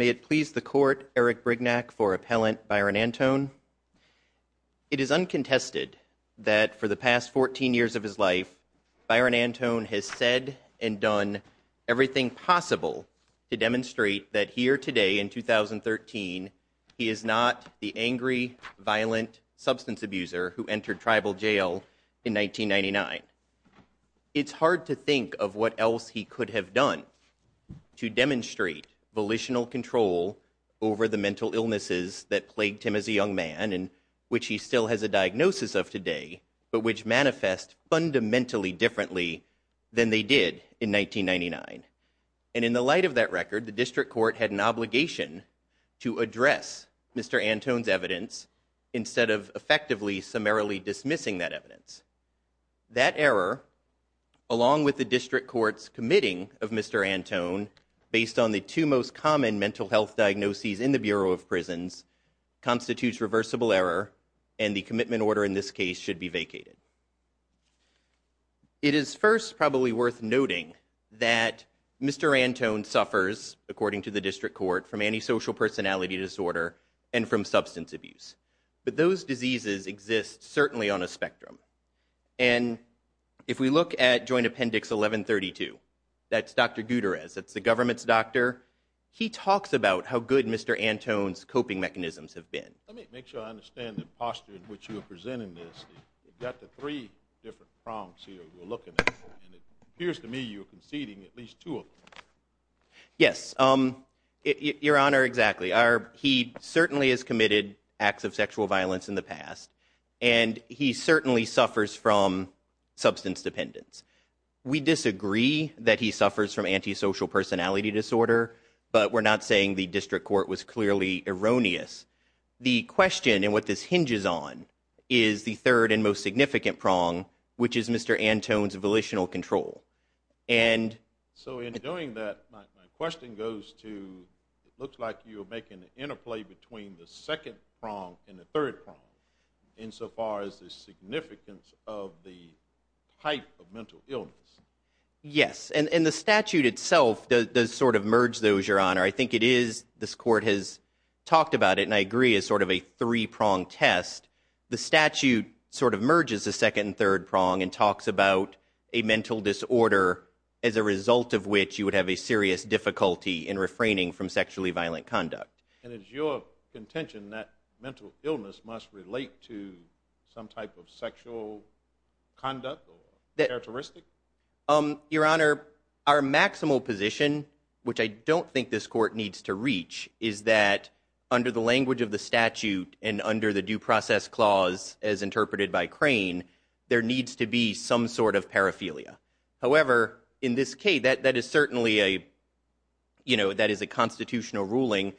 May it please the court Eric Brignac for appellant Byron Antone. It is uncontested that for the past 14 years of his life Byron Antone has said and he is not the angry violent substance abuser who entered tribal jail in 1999. It's hard to think of what else he could have done to demonstrate volitional control over the mental illnesses that plagued him as a young man and which he still has a diagnosis of today but which manifest fundamentally differently than they did in 1999. And in the light of that record the district court had an obligation to address Mr. Antone's evidence instead of effectively summarily dismissing that evidence. That error along with the district court's committing of Mr. Antone based on the two most common mental health diagnoses in the Bureau of Prisons constitutes reversible error and the commitment order in this case should be vacated. It is first probably worth noting that Mr. Antone suffers according to the district court from antisocial personality disorder and from substance abuse. But those diseases exist certainly on a spectrum and if we look at joint appendix 1132 that's Dr. Gutierrez that's the government's doctor he talks about how good Mr. Antone's coping mechanisms have been. Let me make sure I three different prongs here we're looking at and it appears to me you're conceding at least two of them. Yes um your honor exactly our he certainly has committed acts of sexual violence in the past and he certainly suffers from substance dependence. We disagree that he suffers from antisocial personality disorder but we're not saying the district court was clearly erroneous. The question and what this hinges on is the third and most significant prong which is Mr. Antone's volitional control and so in doing that my question goes to it looks like you're making an interplay between the second prong and the third prong insofar as the significance of the type of mental illness. Yes and and the statute itself does sort of merge those your honor I think it is this court has talked about it and I agree is sort of a three-prong test the statute sort of merges the second and third prong and talks about a mental disorder as a result of which you would have a serious difficulty in refraining from sexually violent conduct. And it's your contention that mental illness must relate to some type of sexual conduct or is that under the language of the statute and under the due process clause as interpreted by Crane there needs to be some sort of paraphilia. However in this case that that is certainly a you know that is a constitutional ruling.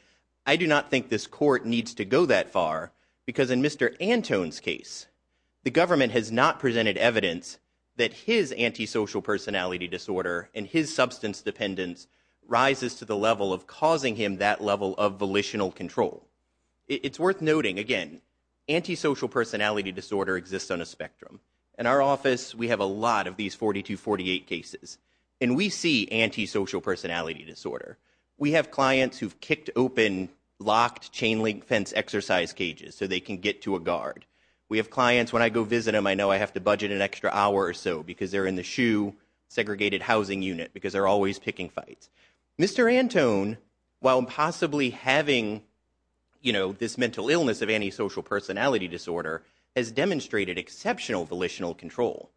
I do not think this court needs to go that far because in Mr. Antone's case the government has not presented evidence that his antisocial personality disorder and his substance dependence rises to the level of causing him that level of volitional control. It's worth noting again antisocial personality disorder exists on a spectrum. In our office we have a lot of these 42-48 cases and we see antisocial personality disorder. We have clients who've kicked open locked chain-link fence exercise cages so they can get to a guard. We have clients when I go visit them I know I have to budget an extra hour or so because they're in the shoe segregated housing unit because they're always picking fights. Mr. Antone while possibly having you know this mental illness of antisocial personality disorder has demonstrated exceptional volitional control.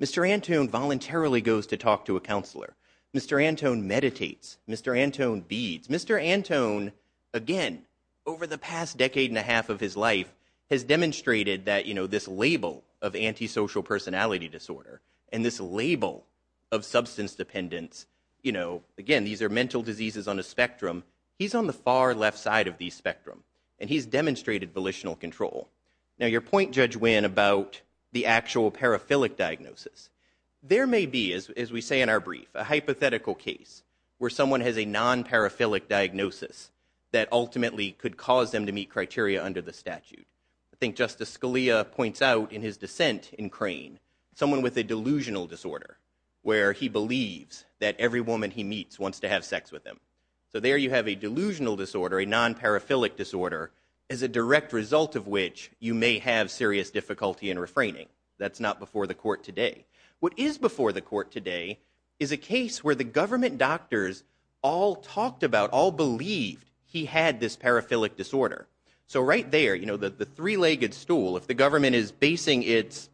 Mr. Antone voluntarily goes to talk to a counselor. Mr. Antone meditates. Mr. Antone beads. Mr. Antone again over the past decade and a half of his life has demonstrated that you know this label of antisocial personality disorder and this label of substance dependence you know again these are mental diseases on a spectrum. He's on the far left side of the spectrum and he's demonstrated volitional control. Now your point Judge Nguyen about the actual paraphilic diagnosis. There may be as we say in our brief a hypothetical case where someone has a non-paraphilic diagnosis that ultimately could cause them to meet criteria under the statute. I think Justice Scalia points out in his dissent in Crane someone with a delusional disorder where he believes that every woman he meets wants to have sex with him. So there you have a delusional disorder a non-paraphilic disorder as a direct result of which you may have serious difficulty in refraining. That's not before the court today. What is before the court today is a case where the government doctors all talked about all believed he had this paraphilic disorder. So right there you know that the three-legged stool if the government is basing its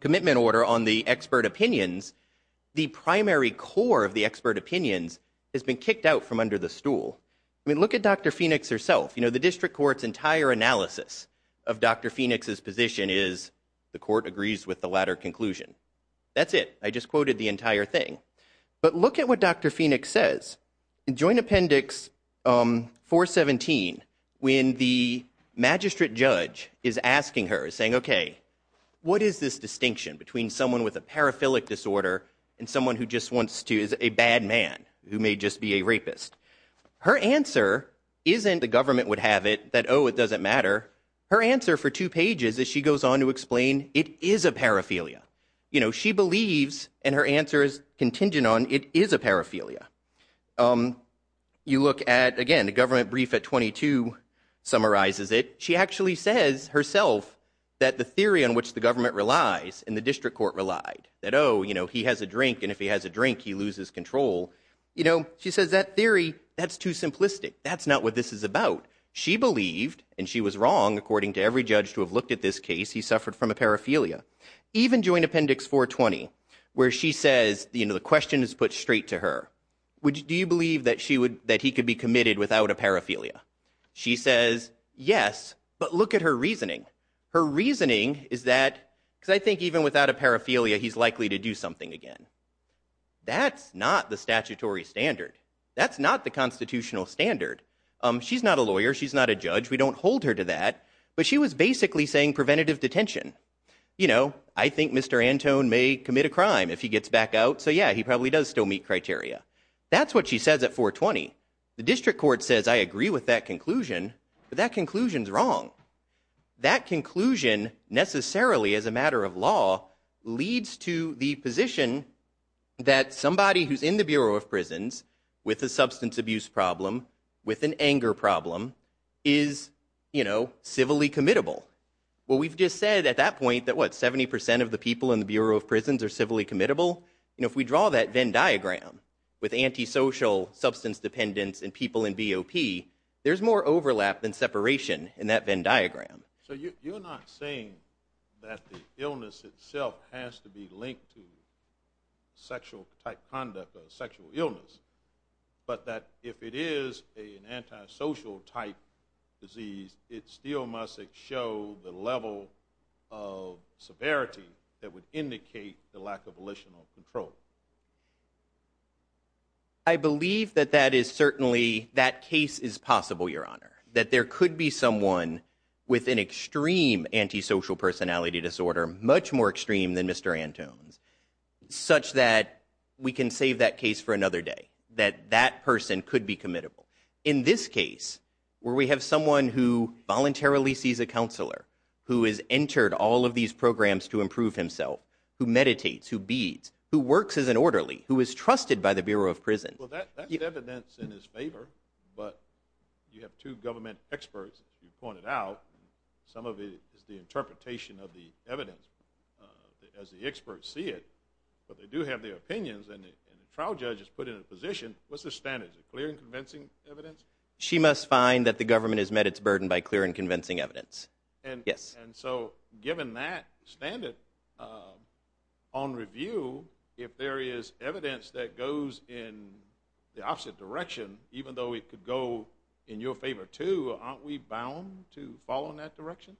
commitment order on the expert opinions the primary core of the expert opinions has been kicked out from under the stool. I mean look at Dr. Phoenix herself you know the district court's entire analysis of Dr. Phoenix's position is the court agrees with the latter conclusion. That's it. I When the magistrate judge is asking her saying okay what is this distinction between someone with a paraphilic disorder and someone who just wants to is a bad man who may just be a rapist. Her answer isn't the government would have it that oh it doesn't matter. Her answer for two pages is she goes on to explain it is a paraphilia. You know she believes and her answer is contingent on it is a paraphilia. You look at again the government brief at 22 summarizes it. She actually says herself that the theory on which the government relies and the district court relied that oh you know he has a drink and if he has a drink he loses control. You know she says that theory that's too simplistic. That's not what this is about. She believed and she was wrong according to every judge to have looked at this case he suffered from a paraphilia. Even joint appendix 420 where she says you know the question is put straight to her which do you believe that she would that he could be committed without a paraphilia. She says yes but look at her reasoning. Her reasoning is that because I think even without a paraphilia he's likely to do something again. That's not the statutory standard. That's not the constitutional standard. She's not a lawyer. She's not a judge. We don't hold her to that but she was basically saying preventative detention. You know I think Mr. Antone may commit a crime if he gets back out so yeah he probably does still meet criteria. That's what she says at 420. The district court says I agree with that conclusion but that conclusion is wrong. That conclusion necessarily as a matter of law leads to the position that somebody who's in the Bureau of Prisons with a substance abuse problem with an point that what 70 percent of the people in the Bureau of Prisons are civilly committable. You know if we draw that Venn diagram with antisocial substance dependence and people in BOP there's more overlap than separation in that Venn diagram. So you're not saying that the illness itself has to be linked to sexual type conduct or sexual illness but that if it is an antisocial type disease it still must show the level of severity that would indicate the lack of volitional control. I believe that that is certainly that case is possible your honor that there could be someone with an extreme antisocial personality disorder much more extreme than Mr. Antone's such that we can save that case for another day that that person could be committable. In this case where we have someone who voluntarily sees a counselor, who has entered all of these programs to improve himself, who meditates, who beads, who works as an orderly, who is trusted by the Bureau of Prisons. Well that that's evidence in his favor but you have two government experts as you pointed out some of it is the interpretation of the evidence as the experts see it but they do have their opinions and the trial judge is put in position. What's the standard? Is it clear and convincing evidence? She must find that the government has met its burden by clear and convincing evidence. And yes and so given that standard on review if there is evidence that goes in the opposite direction even though it could go in your favor too aren't we bound to follow in that direction?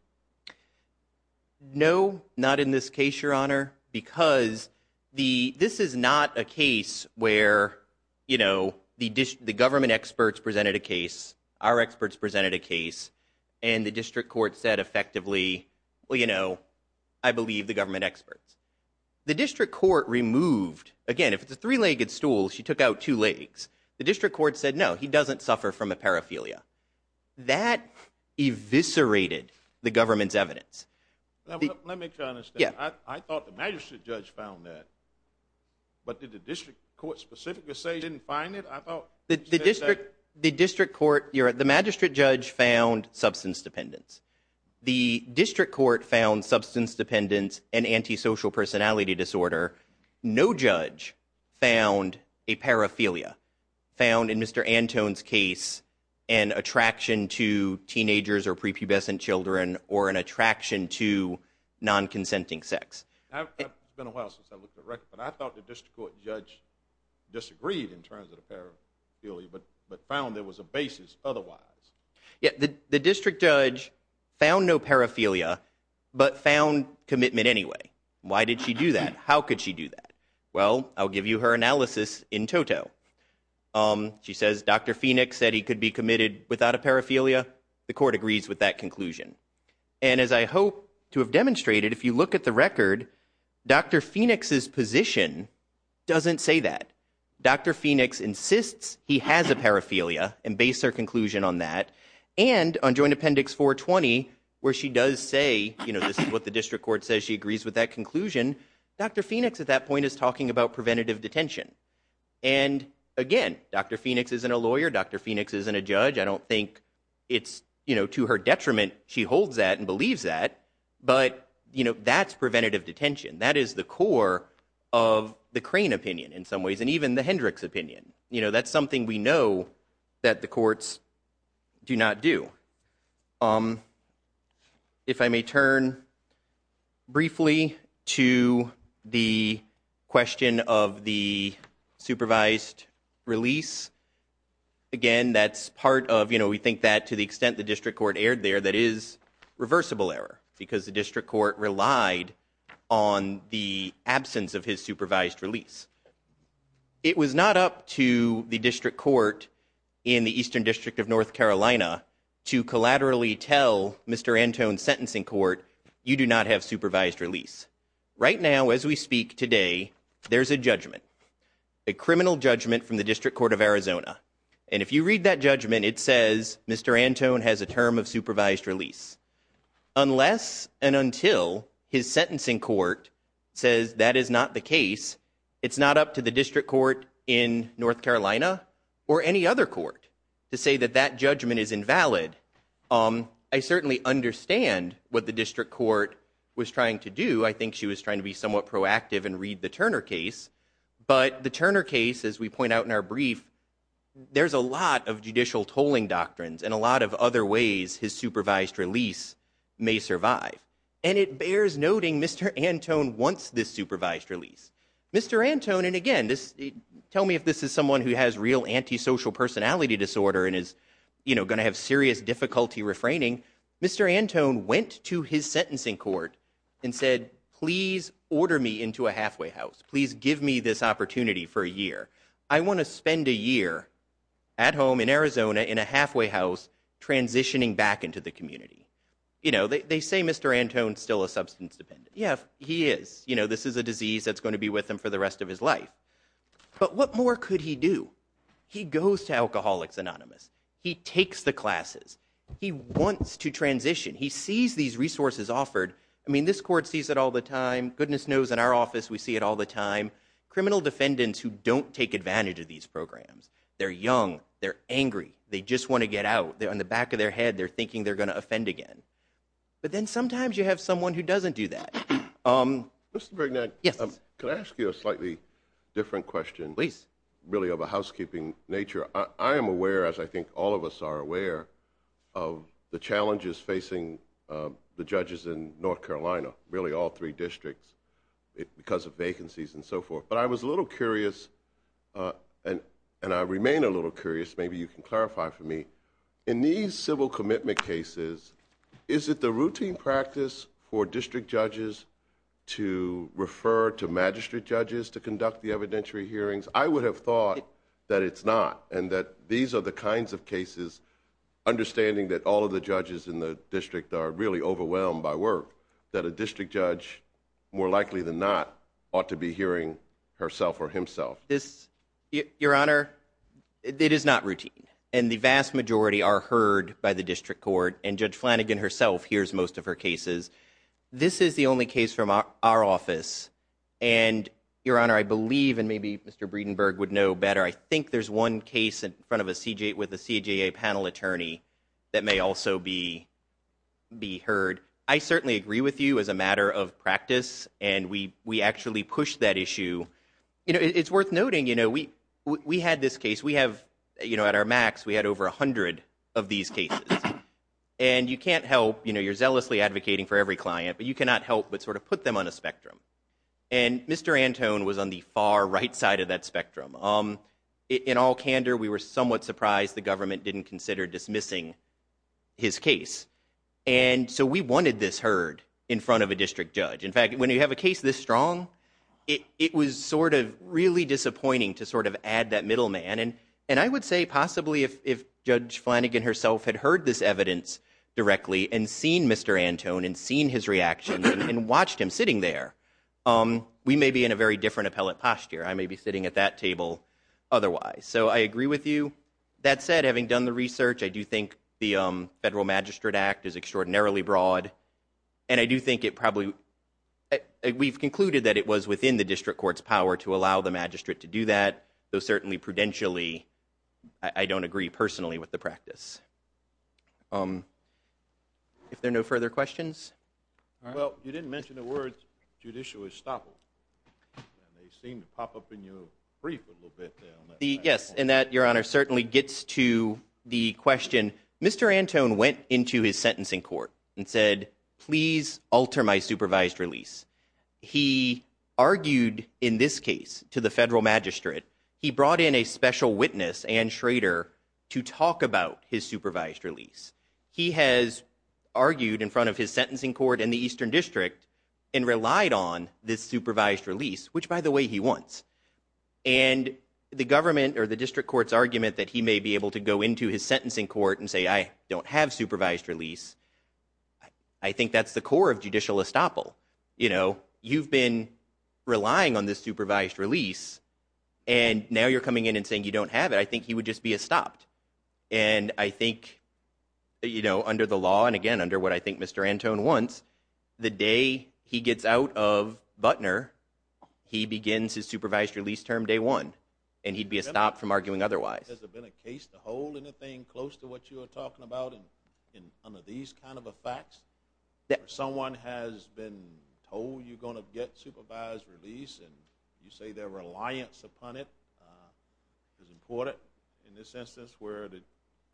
No not in this case your honor because the this is not a case where you know the government experts presented a case our experts presented a case and the district court said effectively well you know I believe the government experts. The district court removed again if it's a three-legged stool she took out two legs. The district court said no he doesn't suffer from a paraphilia. That eviscerated the government's I thought the magistrate judge found that but did the district court specifically say you didn't find it? I thought that the district the district court your the magistrate judge found substance dependence. The district court found substance dependence and antisocial personality disorder. No judge found a paraphilia found in Mr. Antone's case an attraction to teenagers or prepubescent children or an attraction to non-consenting sex. It's been a while since I looked at records but I thought the district court judge disagreed in terms of the paraphilia but but found there was a basis otherwise. Yeah the district judge found no paraphilia but found commitment anyway. Why did she do that? How could she do that? Well I'll give you her analysis in toto. She says Dr. Phoenix is a lawyer. Dr. Phoenix is a lawyer. She says she agrees with that conclusion and as I hope to have demonstrated if you look at the record Dr. Phoenix's position doesn't say that. Dr. Phoenix insists he has a paraphilia and base their conclusion on that and on joint appendix 420 where she does say you know this is what the district court says she agrees with that conclusion. Dr. Phoenix at that point is talking about preventative detention and again Dr. Phoenix isn't a lawyer. Dr. Phoenix isn't a judge. I don't think it's you know to her detriment she holds that and believes that but you know that's preventative detention. That is the core of the Crane opinion in some ways and even the Hendricks opinion. You know that's something we that the courts do not do. If I may turn briefly to the question of the supervised release. Again that's part of you know we think that to the extent the district court erred there that is reversible error because the district court relied on the absence of his supervised release. It was not up to the district court in the eastern district of North Carolina to collaterally tell Mr. Antone's sentencing court you do not have supervised release. Right now as we speak today there's a judgment a criminal judgment from the district court of Arizona and if you read that judgment it says Mr. Antone has a term of supervised release unless and until his sentencing court says that is not the case. It's not up to the district court in North Carolina or any other court to say that that judgment is invalid. I certainly understand what the district court was trying to do. I think she was trying to be somewhat proactive and read the Turner case but the Turner case as we point out in our brief there's a lot of judicial tolling doctrines and a lot of other ways his supervised release may survive and it bears noting Mr. Antone wants this supervised release. Mr. Antone and again this tell me if this is someone who has real anti-social personality disorder and is you know going to have serious difficulty refraining. Mr. Antone went to his sentencing court and said please order me into a halfway house. Please give me this opportunity for a year. I want to spend a year at home in Arizona in a halfway house transitioning back into the community. You know they say Mr. Antone's still a substance dependent. Yeah he is you know this is a disease that's going to be with him for the rest of his life but what more could he do? He goes to Alcoholics Anonymous. He takes the classes. He wants to transition. He sees these resources offered. I mean this court sees it all the time. Goodness knows in our office we see it all the time. Criminal defendants who don't take advantage of these programs. They're young. They're angry. They just want to get out. They're on the back of their head. They're thinking they're going to offend again but then sometimes you have someone who doesn't do that. Mr. Brignac. Yes. Could I ask you a slightly different question? Please. Really of a housekeeping nature. I am aware as I think all of us are aware of the challenges facing the judges in North Carolina. Really all three and so forth but I was a little curious and I remain a little curious maybe you can clarify for me. In these civil commitment cases is it the routine practice for district judges to refer to magistrate judges to conduct the evidentiary hearings? I would have thought that it's not and that these are the kinds of cases understanding that all of the judges in the district are really hearing herself or himself. This your honor it is not routine and the vast majority are heard by the district court and Judge Flanagan herself hears most of her cases. This is the only case from our office and your honor I believe and maybe Mr. Breedenburg would know better. I think there's one case in front of a CJA with a CJA panel attorney that may also be be heard. I certainly pushed that issue you know it's worth noting you know we we had this case we have you know at our max we had over a hundred of these cases and you can't help you know you're zealously advocating for every client but you cannot help but sort of put them on a spectrum and Mr. Antone was on the far right side of that spectrum. In all candor we were somewhat surprised the government didn't consider dismissing his case and so we wanted this heard in front of a district judge. In fact when you have a case this strong it was sort of really disappointing to sort of add that middleman and and I would say possibly if if Judge Flanagan herself had heard this evidence directly and seen Mr. Antone and seen his reaction and watched him sitting there we may be in a very different appellate posture. I may be sitting at that table otherwise so I agree with you. That said having done the research I do think the Federal Magistrate Act is extraordinarily broad and I do think it probably we've concluded that it was within the district court's power to allow the magistrate to do that though certainly prudentially I don't agree personally with the practice. If there are no further questions? Well you didn't mention the words judicial estoppel and they seem to pop up in your brief a little bit. Yes and that your honor certainly gets to the question Mr. Antone went into his sentencing court and said please alter my supervised release. He argued in this case to the federal magistrate he brought in a special witness Ann Schrader to talk about his supervised release. He has argued in front of his sentencing court in the eastern district and relied on this supervised release which by the way he wants and the government or the district courts argument that he may be able to go into his sentencing court and say I don't have supervised release. I think that's the core of judicial estoppel. You know you've been relying on this supervised release and now you're coming in and saying you don't have it. I think he would just be a stopped and I think you know under the law and again under what I think Mr. Antone wants the day he gets out of Butner he begins his supervised release term day one and he'd be stopped from arguing otherwise. Has there been a case to hold anything close to what you are talking about in under these kind of effects that someone has been told you're going to get supervised release and you say their reliance upon it is important in this instance where the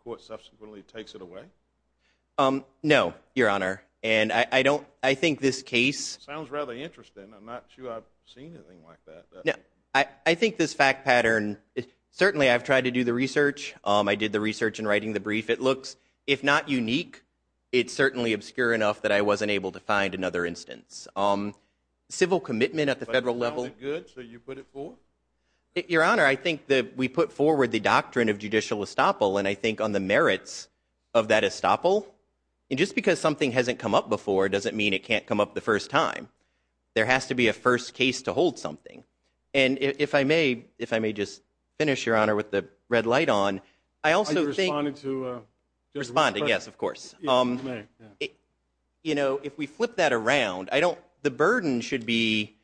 court subsequently takes it away? No your honor and I don't I think this case sounds rather interesting. I'm not sure I've seen anything like that. I think this fact pattern certainly I've tried to do the research. I did the research in writing the brief. It looks if not unique it's certainly obscure enough that I wasn't able to find another instance. Civil commitment at the federal level. So you put it forward? Your honor I think that we put forward the doctrine of judicial estoppel and I think on the merits of that estoppel and just because something hasn't come up before doesn't mean it can't come up the first time. There has to be a first case to hold something and if I may if I may just finish your honor with the red light on I also think responding yes of course. You know if we flip that around I don't the burden should be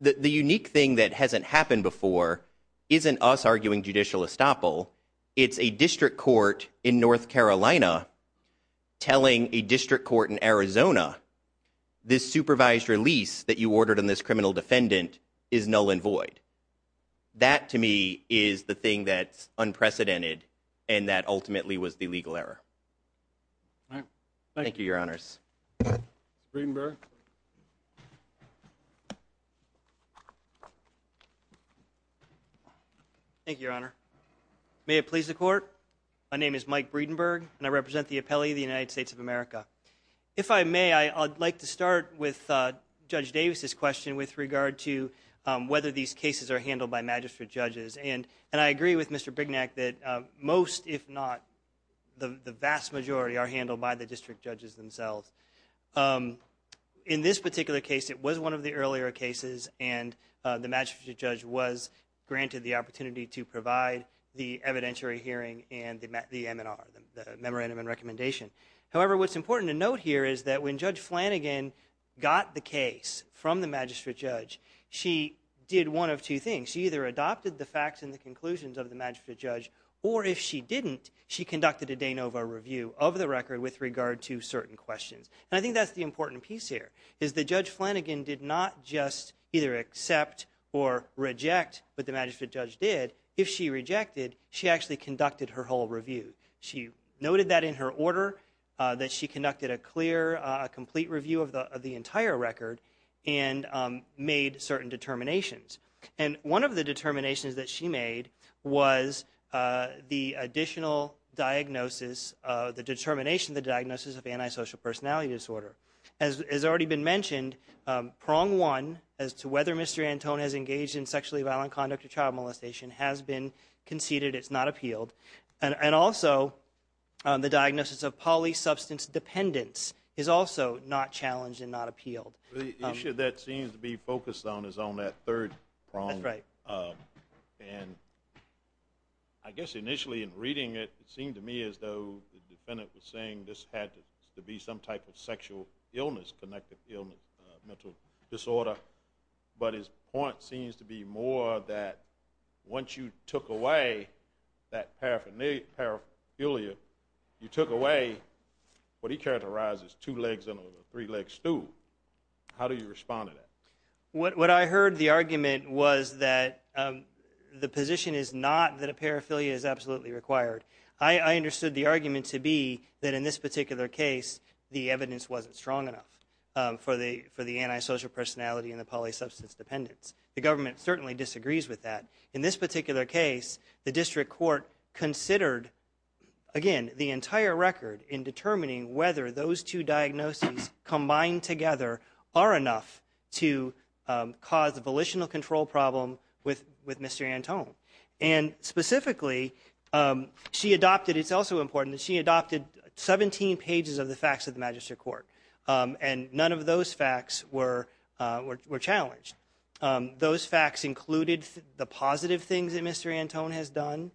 that the unique thing that hasn't happened before isn't us arguing judicial estoppel. It's a district court in North Carolina telling a district court in Arizona this supervised release that you ordered on this criminal defendant is null and void. That to me is the thing that's unprecedented and that ultimately was the legal error. Thank you your honors. Breedenburg. Thank you your honor. May it please the court my name is Mike Breedenburg and I represent the appellee of the United States of America. If I may I'd like to start with Judge Davis's question with regard to whether these cases are handled by magistrate judges and and I agree with Mr. Brignac that most if not the vast majority are handled by the district judges themselves. In this particular case it was one of the earlier cases and the magistrate judge was granted the opportunity to provide the evidentiary hearing and the MNR the memorandum and recommendation. However what's important to note here is that when Judge Flanagan got the case from the magistrate judge she did one of two things. She either adopted the facts and conclusions of the magistrate judge or if she didn't she conducted a de novo review of the record with regard to certain questions and I think that's the important piece here is that Judge Flanagan did not just either accept or reject what the magistrate judge did. If she rejected she actually conducted her whole review. She noted that in her order that she conducted a clear a complete review of the of the entire record and made certain determinations and one of the was the additional diagnosis of the determination the diagnosis of antisocial personality disorder. As has already been mentioned prong one as to whether Mr. Antone has engaged in sexually violent conduct or child molestation has been conceded it's not appealed and and also the diagnosis of poly substance dependence is also not challenged and not appealed. The issue that seems to be focused on is on that third prong and I guess initially in reading it seemed to me as though the defendant was saying this had to be some type of sexual illness connective illness mental disorder but his point seems to be more that once you took away that paraphernalia you took away what he characterizes two legs in a three-leg stool. How do you respond to that? What I heard the argument was that the position is not that a paraphernalia is absolutely required. I understood the argument to be that in this particular case the evidence wasn't strong enough for the for the antisocial personality and the poly substance dependence. The government certainly disagrees with that. In this particular case the district court considered again the entire record in determining whether those two diagnoses combined together are enough to cause a volitional control problem with with Mr. Antone and specifically she adopted it's also important that she adopted 17 pages of the facts of the magistrate court and none of those facts were challenged. Those facts included the positive things that Mr. Antone has done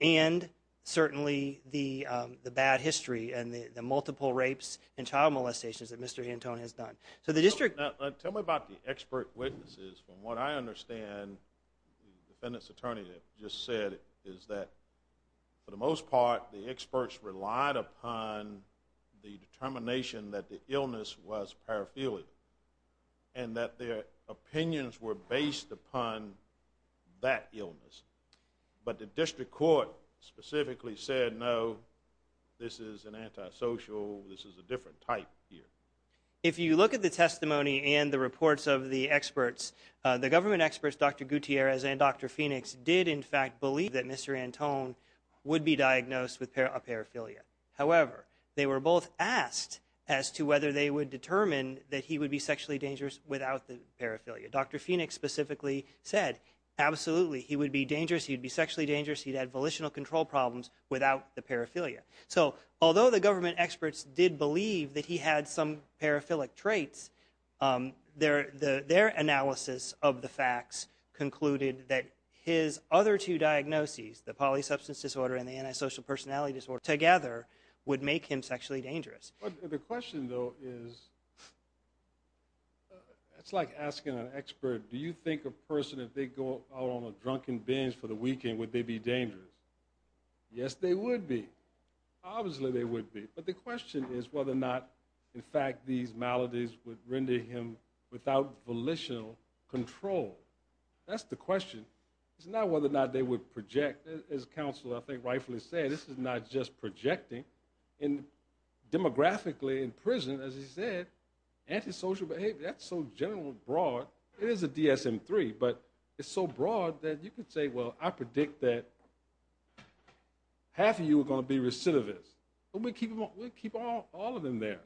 and certainly the bad history and the multiple rapes and child molestations that Mr. Antone has done. So the district. Tell me about the expert witnesses from what I understand the defendant's attorney just said is that for the most part the experts relied upon the determination that the illness was paraphernalia and that their opinions were based upon that illness but the district court specifically said no this is an antisocial this is a different type here. If you look at the testimony and the reports of the experts the government experts Dr. Gutierrez and Dr. Phoenix did in fact believe that Mr. Antone would be diagnosed with a paraphernalia. However they were both asked as to whether they would determine that he would be sexually dangerous without the paraphernalia. Dr. Phoenix specifically said absolutely he would be dangerous he'd be sexually dangerous he'd had volitional control problems without the paraphernalia. So although the government experts did believe that he had some paraphilic traits their analysis of the facts concluded that his other two diagnoses the polysubstance disorder and the antisocial personality disorder together would make him dangerous. That's like asking an expert do you think a person if they go out on a drunken binge for the weekend would they be dangerous? Yes they would be obviously they would be but the question is whether or not in fact these maladies would render him without volitional control. That's the question it's not whether or not they would project as counsel I think rightfully said this is not just antisocial behavior that's so generally broad it is a dsm-3 but it's so broad that you could say well I predict that half of you are going to be recidivist but we keep them we'll keep all all of them there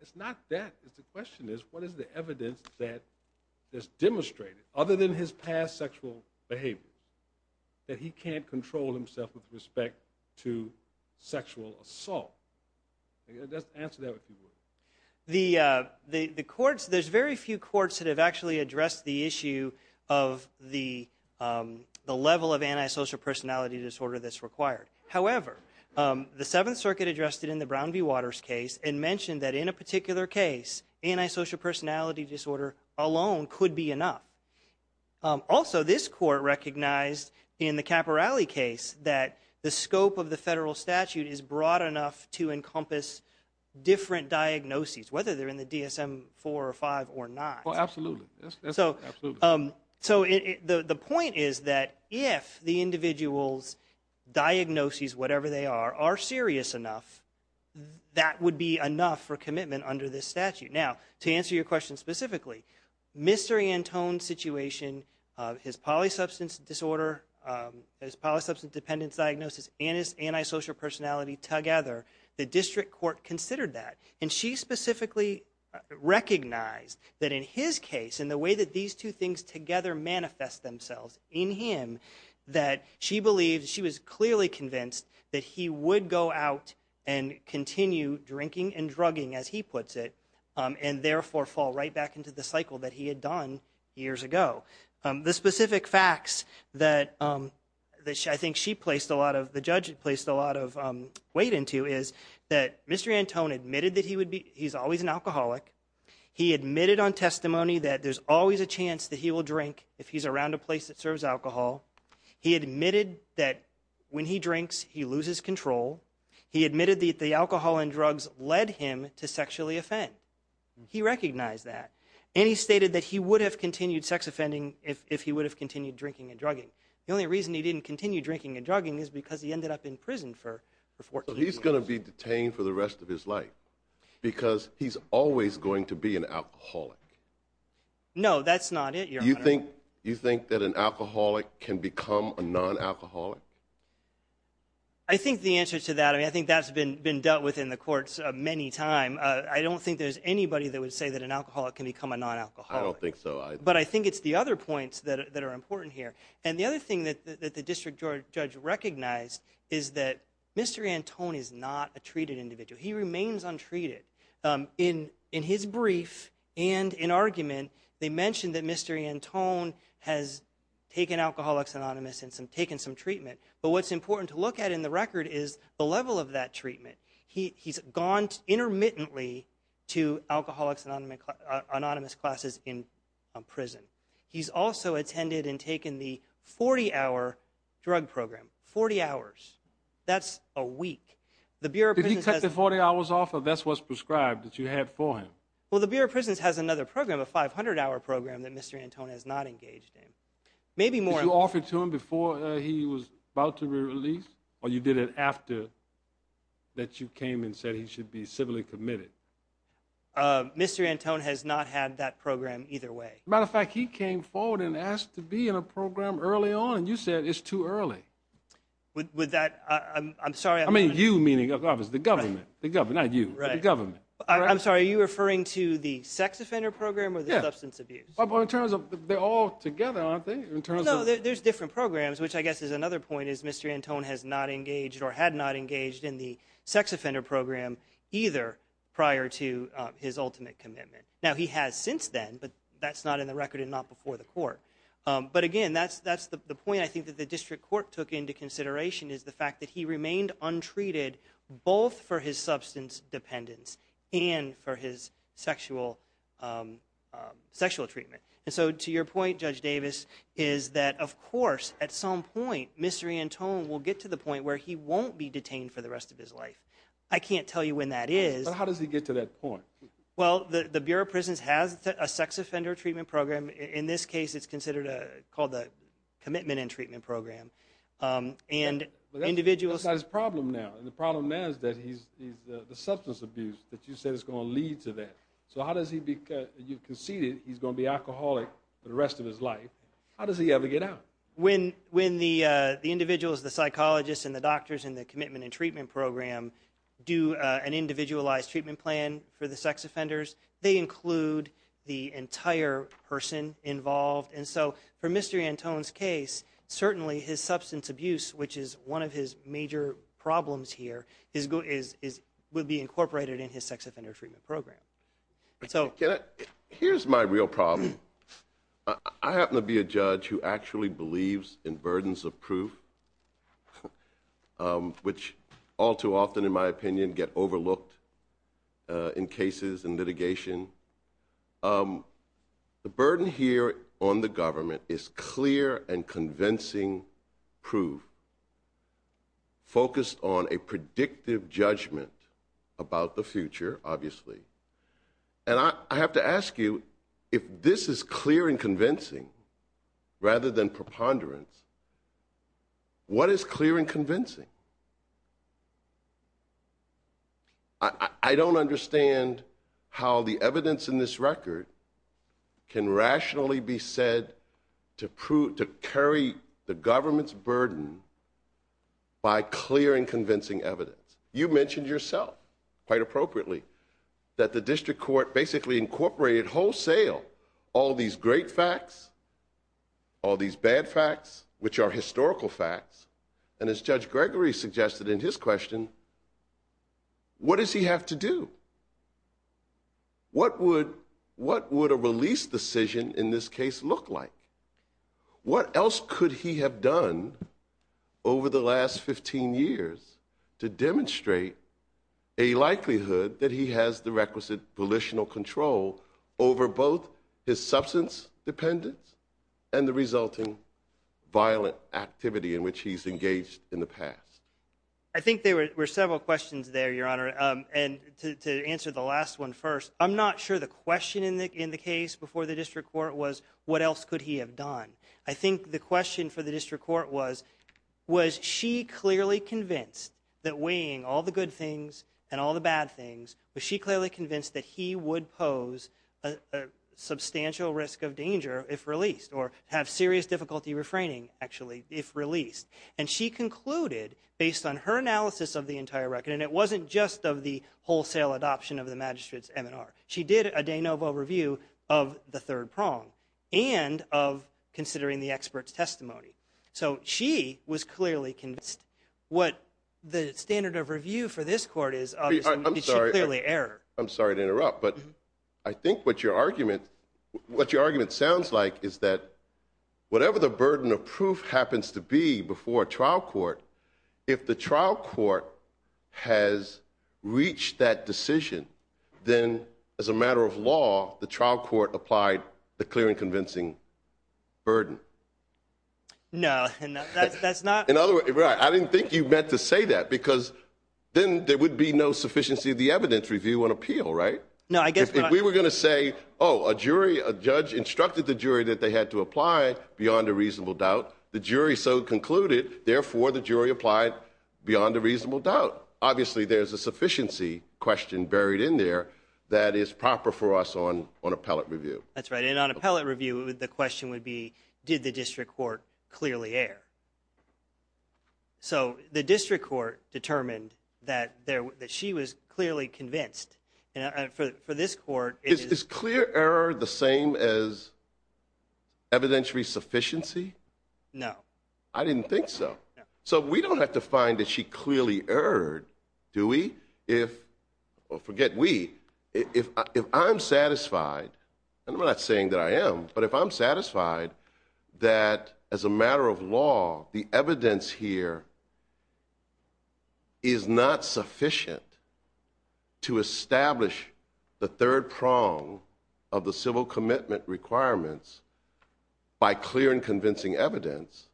it's not that it's the question is what is the evidence that is demonstrated other than his past sexual behavior that he can't control himself with respect to sexual assault just answer that if you would. The courts there's very few courts that have actually addressed the issue of the the level of antisocial personality disorder that's required however the seventh circuit addressed it in the Brown v. Waters case and mentioned that in a particular case antisocial personality disorder alone could be enough. Also this court recognized in the encompass different diagnoses whether they're in the dsm-4 or 5 or not. Oh absolutely so so the the point is that if the individual's diagnoses whatever they are are serious enough that would be enough for commitment under this statute. Now to answer your question specifically Mr. Antone's situation his polysubstance disorder his polysubstance dependence diagnosis and his antisocial personality together the district court considered that and she specifically recognized that in his case in the way that these two things together manifest themselves in him that she believed she was clearly convinced that he would go out and continue drinking and drugging as he puts it and therefore fall right back into the cycle that he had done years ago. The specific facts that that I think she placed a lot of the judge placed a lot of weight into is that Mr. Antone admitted that he would be he's always an alcoholic. He admitted on testimony that there's always a chance that he will drink if he's around a place that serves alcohol. He admitted that when he drinks he loses control. He admitted that the alcohol and drugs led him to sexually offend. He recognized that and he stated that he would have continued sex offending if he would have continued drinking and drugging. The only reason he didn't continue drinking and drugging is because he ended up in prison for 14 years. He's going to be detained for the rest of his life because he's always going to be an alcoholic. No that's not it. You think that an alcoholic can become a non-alcoholic? I think the answer to that I many time. I don't think there's anybody that would say that an alcoholic can become a non-alcoholic. I don't think so. But I think it's the other points that are important here and the other thing that the district judge recognized is that Mr. Antone is not a treated individual. He remains untreated. In his brief and in argument they mentioned that Mr. Antone has taken Alcoholics Anonymous and some taken some treatment but what's important to look at in the record is the level of that treatment. He's gone intermittently to Alcoholics Anonymous classes in prison. He's also attended and taken the 40-hour drug program. 40 hours. That's a week. Did he cut the 40 hours off or that's what's prescribed that you had for him? Well the Bureau of Prisons has another program a 500-hour program that Mr. Antone has not engaged in. Maybe more. Did you offer to him before he was about to be released or you did it after that you came and said he should be civilly committed? Mr. Antone has not had that program either way. Matter of fact he came forward and asked to be in a program early on and you said it's too early. Would that I'm sorry. I mean you meaning of course the government. The government not you. The government. I'm sorry are you referring to the sex offender program or the in terms of there's different programs which I guess is another point is Mr. Antone has not engaged or had not engaged in the sex offender program either prior to his ultimate commitment. Now he has since then but that's not in the record and not before the court but again that's that's the point I think that the district court took into consideration is the fact that he remained untreated both for his substance dependence and for his sexual sexual treatment and so to your point Judge Davis is that of course at some point Mr. Antone will get to the point where he won't be detained for the rest of his life. I can't tell you when that is. But how does he get to that point? Well the the Bureau of Prisons has a sex offender treatment program. In this case it's considered a called the commitment and treatment program and individuals. But that's his problem now and the problem now is that he's the substance abuse that you said is going to lead to that. So you conceded he's going to be alcoholic for the rest of his life. How does he ever get out? When the individuals the psychologists and the doctors in the commitment and treatment program do an individualized treatment plan for the sex offenders they include the entire person involved and so for Mr. Antone's case certainly his substance abuse which is one of his major problems here would be incorporated in his sex offender treatment program. So here's my real problem. I happen to be a judge who actually believes in burdens of proof which all too often in my opinion get overlooked in cases and litigation. The burden here on the government is clear and convincing proof focused on a predictive judgment about the future obviously and I have to ask you if this is clear and convincing rather than preponderance what is clear and convincing? I don't understand how the evidence in this record can rationally be said to prove to carry the government's burden by clear and convincing evidence. You mentioned yourself quite appropriately that the district court basically incorporated wholesale all these great facts all these bad facts which are historical facts and as Judge Gregory suggested in his question what does he have to do? What would what would a release decision in this case look like? What else could he have done over the last 15 years to demonstrate a likelihood that he has the requisite volitional control over both his substance dependence and the resulting violent activity in which he's engaged in the past? I think there were several questions there and to answer the last one first I'm not sure the question in the in the case before the district court was what else could he have done. I think the question for the district court was was she clearly convinced that weighing all the good things and all the bad things was she clearly convinced that he would pose a substantial risk of danger if released or have serious difficulty refraining actually if released and she concluded based on her analysis of the entire record and it wasn't just of the wholesale adoption of the magistrate's MNR she did a de novo review of the third prong and of considering the expert's testimony so she was clearly convinced what the standard of review for this court is obviously clearly error. I'm sorry to interrupt but I think what your argument what your argument sounds like is that whatever the burden of proof happens to be trial court if the trial court has reached that decision then as a matter of law the trial court applied the clear and convincing burden. No that's not in other words right I didn't think you meant to say that because then there would be no sufficiency of the evidence review and appeal right? No I guess we were going to say oh a jury a judge instructed the jury that they had to apply beyond a reasonable doubt the jury so concluded therefore the jury applied beyond a reasonable doubt obviously there's a sufficiency question buried in there that is proper for us on on appellate review. That's right and on appellate review the question would be did the district court clearly err? So the district court determined that there that she was clearly convinced and for for this court is this clear error the same as evidentiary sufficiency? No. I didn't think so so we don't have to find that she clearly erred do we if well forget we if if I'm satisfied and I'm not saying that I am but if I'm satisfied that as a matter of law the evidence here is not sufficient to establish the third prong of the civil commitment requirements by clear and convincing evidence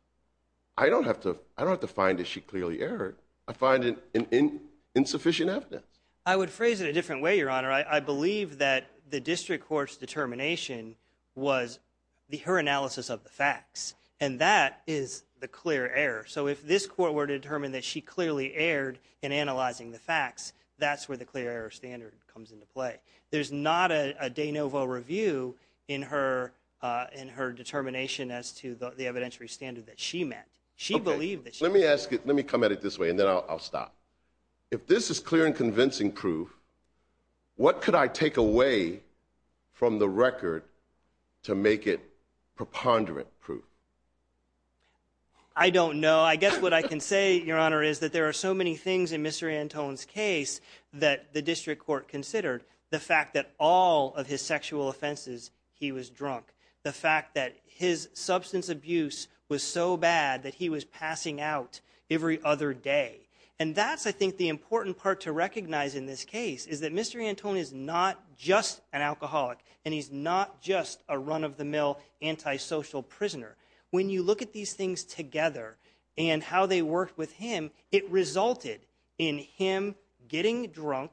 I don't have to I don't have to find that she clearly erred I find it insufficient evidence. I would phrase it a different way your honor I believe that the district court's determination was the her analysis of the facts and that is the clear error so if this court were to determine that she clearly erred in analyzing the facts that's where the clear error standard comes into play there's not a de novo review in her in her determination as to the evidentiary standard that she met she believed that let me ask it let me come at it this way and then I'll stop if this is clear and convincing proof what could I take away from the record to make it preponderant proof I don't know I guess what I can say your honor is that there are so many things in Mr. Antone's case that the district court considered the fact that all of his sexual offenses he was drunk the fact that his substance abuse was so bad that he was passing out every other day and that's I think the important part to recognize in this case is that Mr. Antone is not just an alcoholic and he's not just a run-of-the-mill antisocial prisoner when you look at these things together and how they work with him it resulted in him getting drunk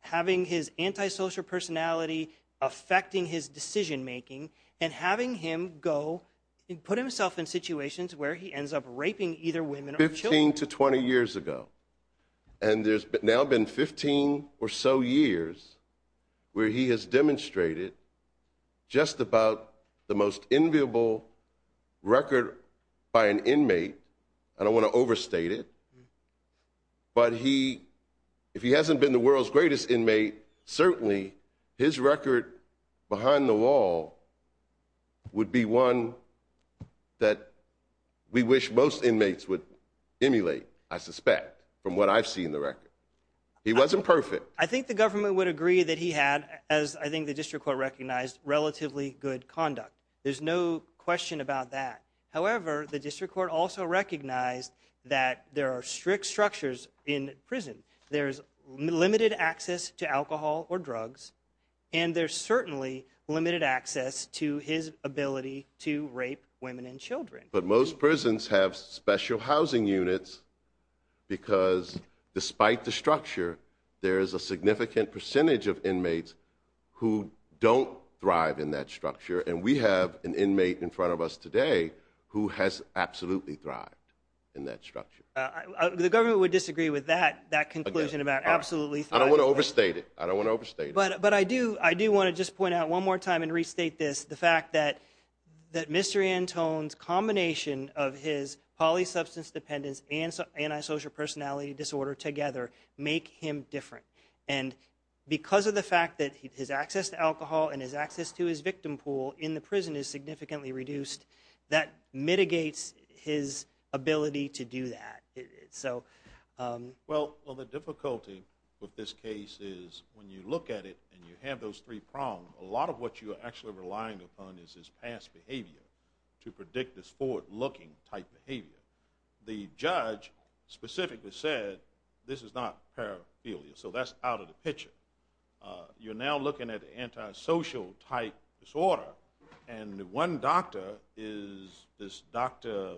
having his antisocial personality affecting his decision making and having him go and put himself in situations where he ends up raping either women 15 to 20 years ago and there's now been 15 or so years where he has demonstrated just about the most enviable record by an inmate I don't want to overstate it but he if he hasn't been the world's greatest inmate certainly his record behind the wall would be one that we wish most inmates would emulate I suspect from what I've seen the record he wasn't perfect I think the government would agree that he had as I think the district court recognized relatively good conduct there's no question about that however the district court also recognized that there are strict structures in prison there's limited access to alcohol or drugs and there's certainly limited access to his ability to rape women and children but most prisons have special housing units because despite the structure there is a significant percentage of inmates who don't thrive in that structure and we have an inmate in front of us today who has absolutely thrived in that structure the government would disagree with that that conclusion about absolutely I don't want to overstate it I don't want to overstate it but but I do I do want to just point out one more time and restate this the fact that that Mr. Antone's combination of his poly substance dependence and anti-social personality disorder together make him different and because of the fact that his access to alcohol and his access to his victim pool in the prison is significantly reduced that mitigates his ability to do that so well well the difficulty with this case is when you look at it and you have those three prong a lot of what you are actually relying upon is his past behavior to predict this forward-looking type behavior the judge specifically said this is not paraphilia so that's out of the picture you're now looking at the anti-social type disorder and one doctor is this Dr.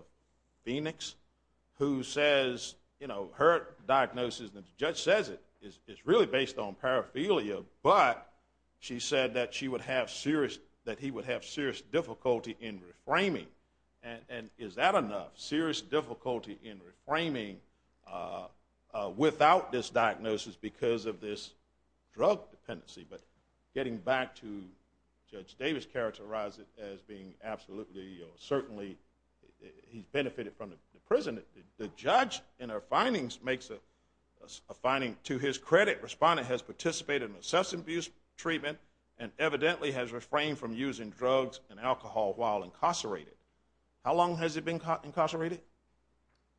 Phoenix who says you know her diagnosis and the judge says it is it's really based on paraphilia but she said that she would have serious that he would have serious difficulty in reframing and and is that enough serious difficulty in reframing without this diagnosis because of this drug dependency but getting back to Judge Davis characterized it as being absolutely or certainly he's benefited from the prison the judge in our findings makes a finding to his credit respondent has participated in substance abuse treatment and evidently has refrained from using drugs and alcohol while incarcerated how long has it been caught incarcerated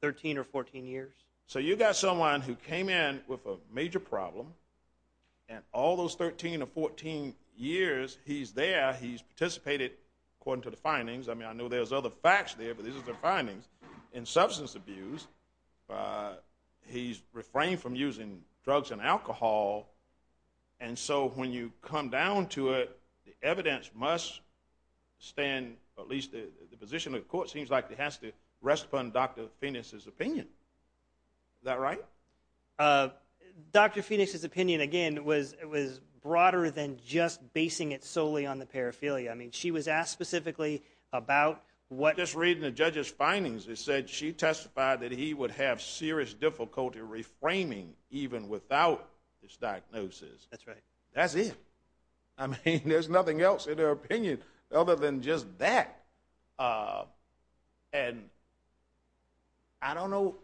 13 or 14 years so you got someone who came in with a major problem and all those 13 or 14 years he's there he's participated according to the findings I mean I know there's other facts there but these are the findings in substance abuse he's refrained from using drugs and alcohol and so when you come down to it the evidence must stand at least the position of the court seems like it has to rest upon Dr. Phoenix's opinion that right uh Dr. Phoenix's opinion again was it was broader than just basing it solely on the paraphilia I mean she was asked specifically about what just reading the judge's findings they said she testified that he would have serious difficulty reframing even without this diagnosis that's right that's it I mean there's nothing else in her opinion other than just that uh and I don't know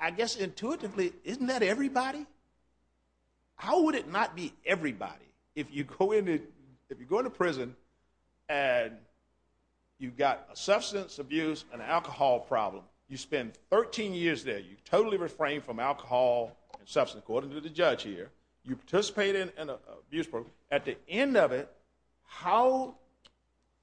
I guess intuitively isn't that everybody how would it not be everybody if you go into if you go into prison and you've got a substance abuse and alcohol problem you spend 13 years there you totally refrain from alcohol and substance according to the judge here you participate in an abuse program at the end of it how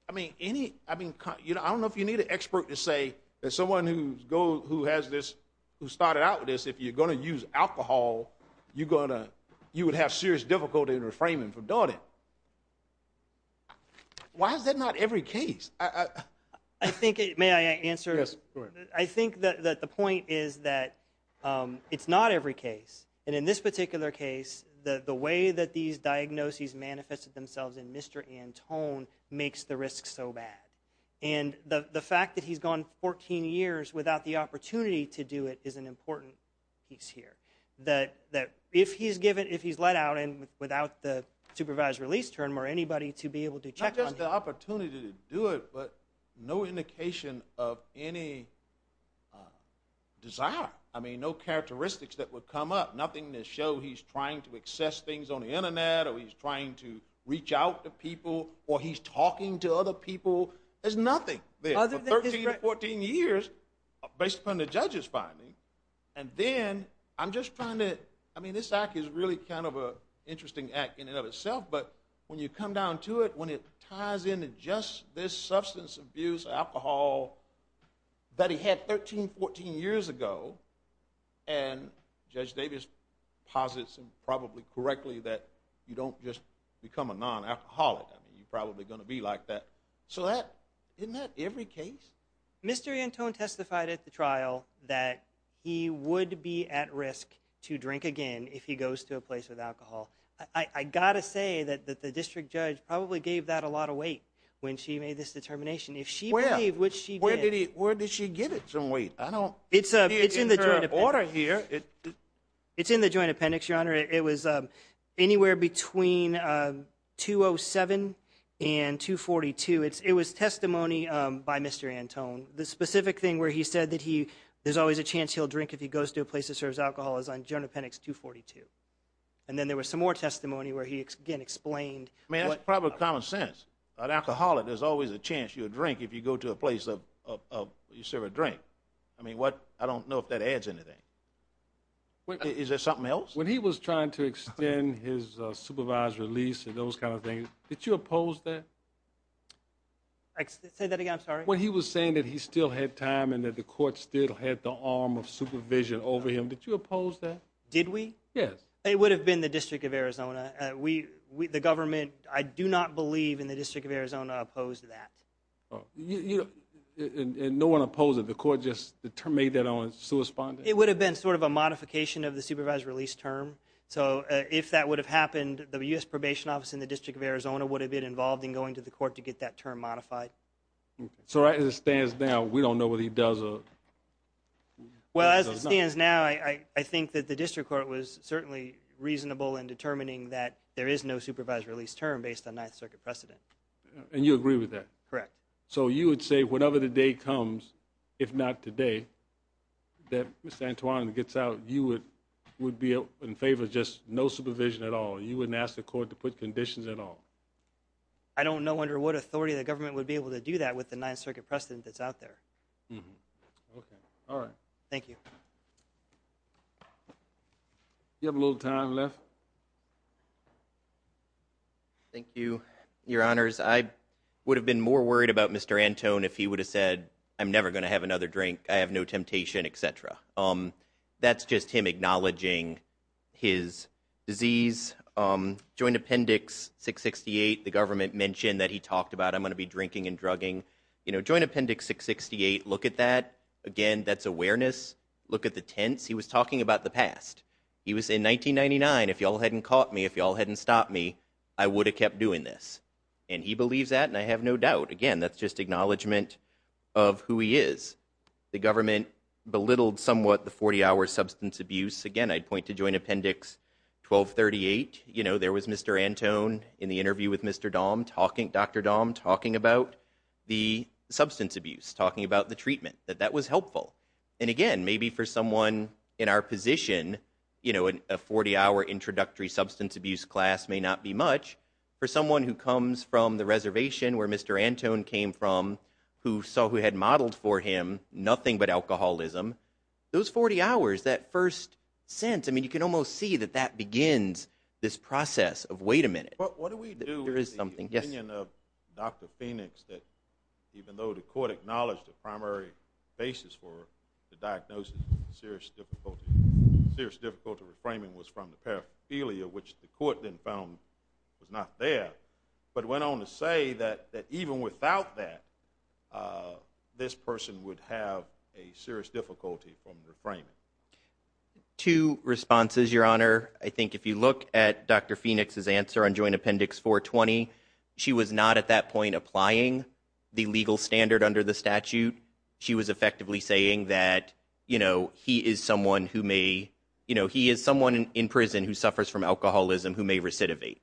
I mean any I mean you know I don't know if you need an expert to say that someone who's go who has this who started out with this if you're going to use alcohol you're going to you would have serious difficulty in reframing for doing it why is that not every case I think it may I answer this I think that the point is that um it's not every case and in this particular case the the way that these diagnoses manifested themselves in Mr. Antone makes the risk so bad and the the fact that he's gone 14 years without the opportunity to do it is an important piece here that that if he's given if he's let out and without the supervised release term or anybody to be able to check the opportunity to do it but no indication of any desire I mean no characteristics that would come up nothing to show he's trying to access things on the internet or he's trying to reach out to people or he's talking to other people there's nothing there for 13 to 14 years based upon the judge's finding and then I'm just trying to I mean this act is really kind of a interesting act in and of itself but when you come down to it when it ties into just this substance abuse alcohol that he had 13 14 years ago and Judge Davis posits and probably correctly that you don't just become a non-alcoholic I mean you're probably going to be like that so that isn't that every case Mr. Antone testified at the trial that he would be at risk to drink again if he goes to a place with alcohol I got to say that that the district judge probably gave that a lot of weight when she made this determination if she believed which she where did he where did she get it some weight I don't it's a it's in the and 242 it's it was testimony by Mr. Antone the specific thing where he said that he there's always a chance he'll drink if he goes to a place that serves alcohol is on journal pennex 242 and then there was some more testimony where he again explained I mean that's probably common sense an alcoholic there's always a chance you'll drink if you go to a place of of you serve a drink I mean what I don't know if that adds anything is there something else when he was trying to extend his supervised release and those kind of things did you oppose that I said that again I'm sorry when he was saying that he still had time and that the court still had the arm of supervision over him did you oppose that did we yes it would have been the district of Arizona we the government I do not believe in the district of Arizona opposed that oh you know and no one opposed it the court just the term made that on its correspondent it would have been sort of a modification of the supervised release term so if that would have happened the U.S. probation office in the district of Arizona would have been involved in going to the court to get that term modified so right as it stands now we don't know what he does or well as it stands now I I think that the district court was certainly reasonable in determining that there is no supervised release term based on ninth circuit precedent and you agree with that correct so you would say whatever the day comes if not today that miss Antoine gets out you would would be in favor just no supervision at all you wouldn't ask the court to put conditions at all I don't know under what authority the government would be able to do that with the ninth circuit precedent that's out there okay all right thank you you have a little time left thank you your honors I would have been more worried about Mr. Antoine if he would have said I'm never going to have another drink I have no temptation etc um that's just him acknowledging his disease um joint appendix 668 the government mentioned that he talked about I'm going to be drinking and drugging you know joint appendix 668 look at that again that's awareness look at the tense he was talking about the past he was in 1999 if y'all hadn't caught me if y'all hadn't caught me y'all hadn't stopped me I would have kept doing this and he believes that and I have no doubt again that's just acknowledgement of who he is the government belittled somewhat the 40-hour substance abuse again I'd point to joint appendix 1238 you know there was Mr. Antoine in the interview with Mr. Dom talking Dr. Dom talking about the substance abuse talking about the treatment that that was helpful and again maybe for someone in our position you know a 40-hour introductory substance abuse class may not be much for someone who comes from the reservation where Mr. Antoine came from who saw who had modeled for him nothing but alcoholism those 40 hours that first sense I mean you can almost see that that begins this process of wait a minute but what do we do there is something yes opinion of Dr. Phoenix that even though the court acknowledged the primary basis for the diagnosis of serious difficulty serious difficulty reframing was from the paraphernalia which the court then found was not there but went on to say that that even without that this person would have a serious difficulty from reframing two responses your honor I think if you look at Dr. Phoenix's answer on joint appendix 420 she was not at that point applying the legal standard under the statute she was effectively saying that you know he is someone who may you know he is someone in prison who suffers from alcoholism who may recidivate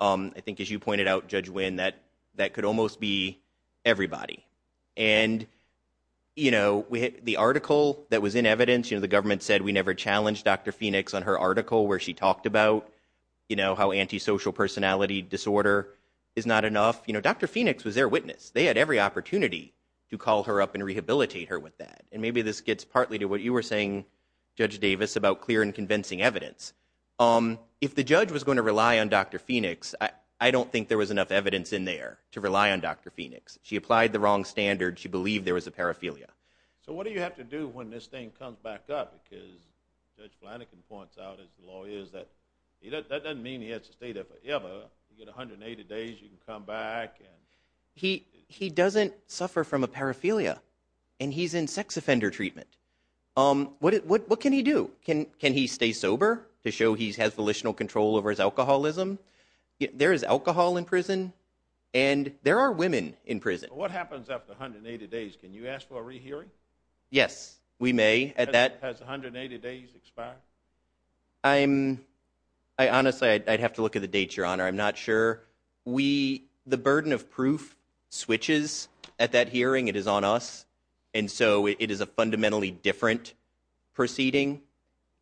um I think as you pointed out judge win that that could almost be everybody and you know we had the article that was in evidence you know the government said we never challenged Dr. Phoenix on her article where she talked about you know how antisocial personality disorder is not enough you know Dr. Phoenix was their witness they had every opportunity to call her up and rehabilitate her with that and maybe this gets partly to what you were saying judge Davis about clear and convincing evidence um if the judge was going to rely on Dr. Phoenix I don't think there was enough evidence in there to rely on Dr. Phoenix she applied the wrong standard she believed there was a paraphernalia so what do you have to do when this thing comes back up because Judge Flanagan points out as the lawyer is that he doesn't mean he has to stay there forever you get 180 days you can come back he he doesn't suffer from a paraphernalia and he's in sex offender treatment um what what what can he do can can he stay sober to show he has volitional control over his alcoholism there is alcohol in prison and there are women in prison what happens after 180 days can you ask for a rehearing yes we may at that has 180 days expired I'm I honestly I'd have to look at the date your not sure we the burden of proof switches at that hearing it is on us and so it is a fundamentally different proceeding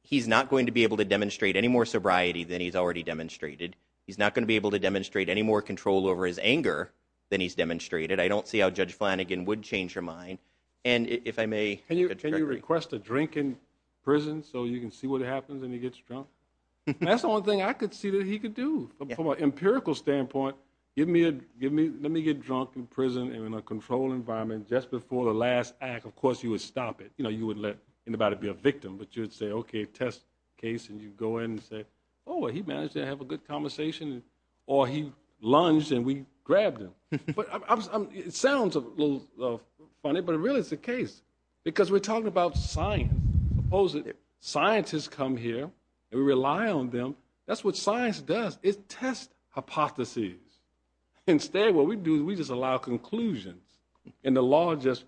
he's not going to be able to demonstrate any more sobriety than he's already demonstrated he's not going to be able to demonstrate any more control over his anger than he's demonstrated I don't see how Judge Flanagan would change her mind and if I may can you can you request a drink in prison so you can see what happens when he gets drunk that's the only thing I could see that he could do from an empirical standpoint give me a give me let me get drunk in prison and in a controlled environment just before the last act of course you would stop it you know you would let anybody be a victim but you would say okay test case and you go in and say oh he managed to have a good conversation or he lunged and we grabbed him but I'm it sounds a little funny but it really is the case because we're talking about science suppose that scientists come here and we rely on them that's what science does is test hypotheses instead what we do is we just allow conclusions and the law just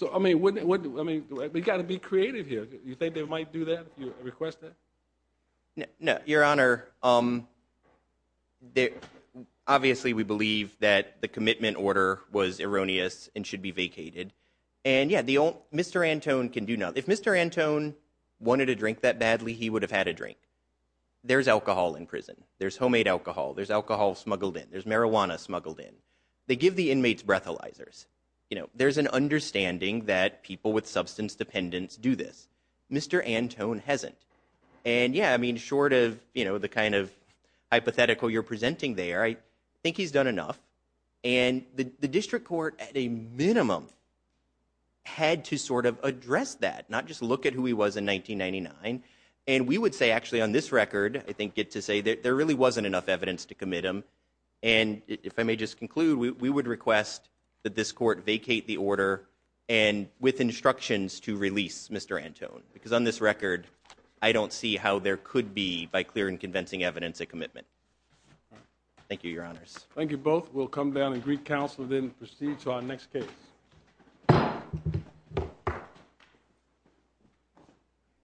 so I mean what I mean we got to be creative here you think they might do that you request that no your honor um they obviously we believe that the commitment order was erroneous and should be Mr. Antone can do nothing if Mr. Antone wanted to drink that badly he would have had a drink there's alcohol in prison there's homemade alcohol there's alcohol smuggled in there's marijuana smuggled in they give the inmates breathalyzers you know there's an understanding that people with substance dependence do this Mr. Antone hasn't and yeah I mean short of you know the kind of hypothetical you're presenting there I think he's done enough and the district court at minimum had to sort of address that not just look at who he was in 1999 and we would say actually on this record I think get to say that there really wasn't enough evidence to commit him and if I may just conclude we would request that this court vacate the order and with instructions to release Mr. Antone because on this record I don't see how there could be by clear and convincing evidence a commitment thank you your honors thank you both we'll come down and greet counsel then proceed to our next case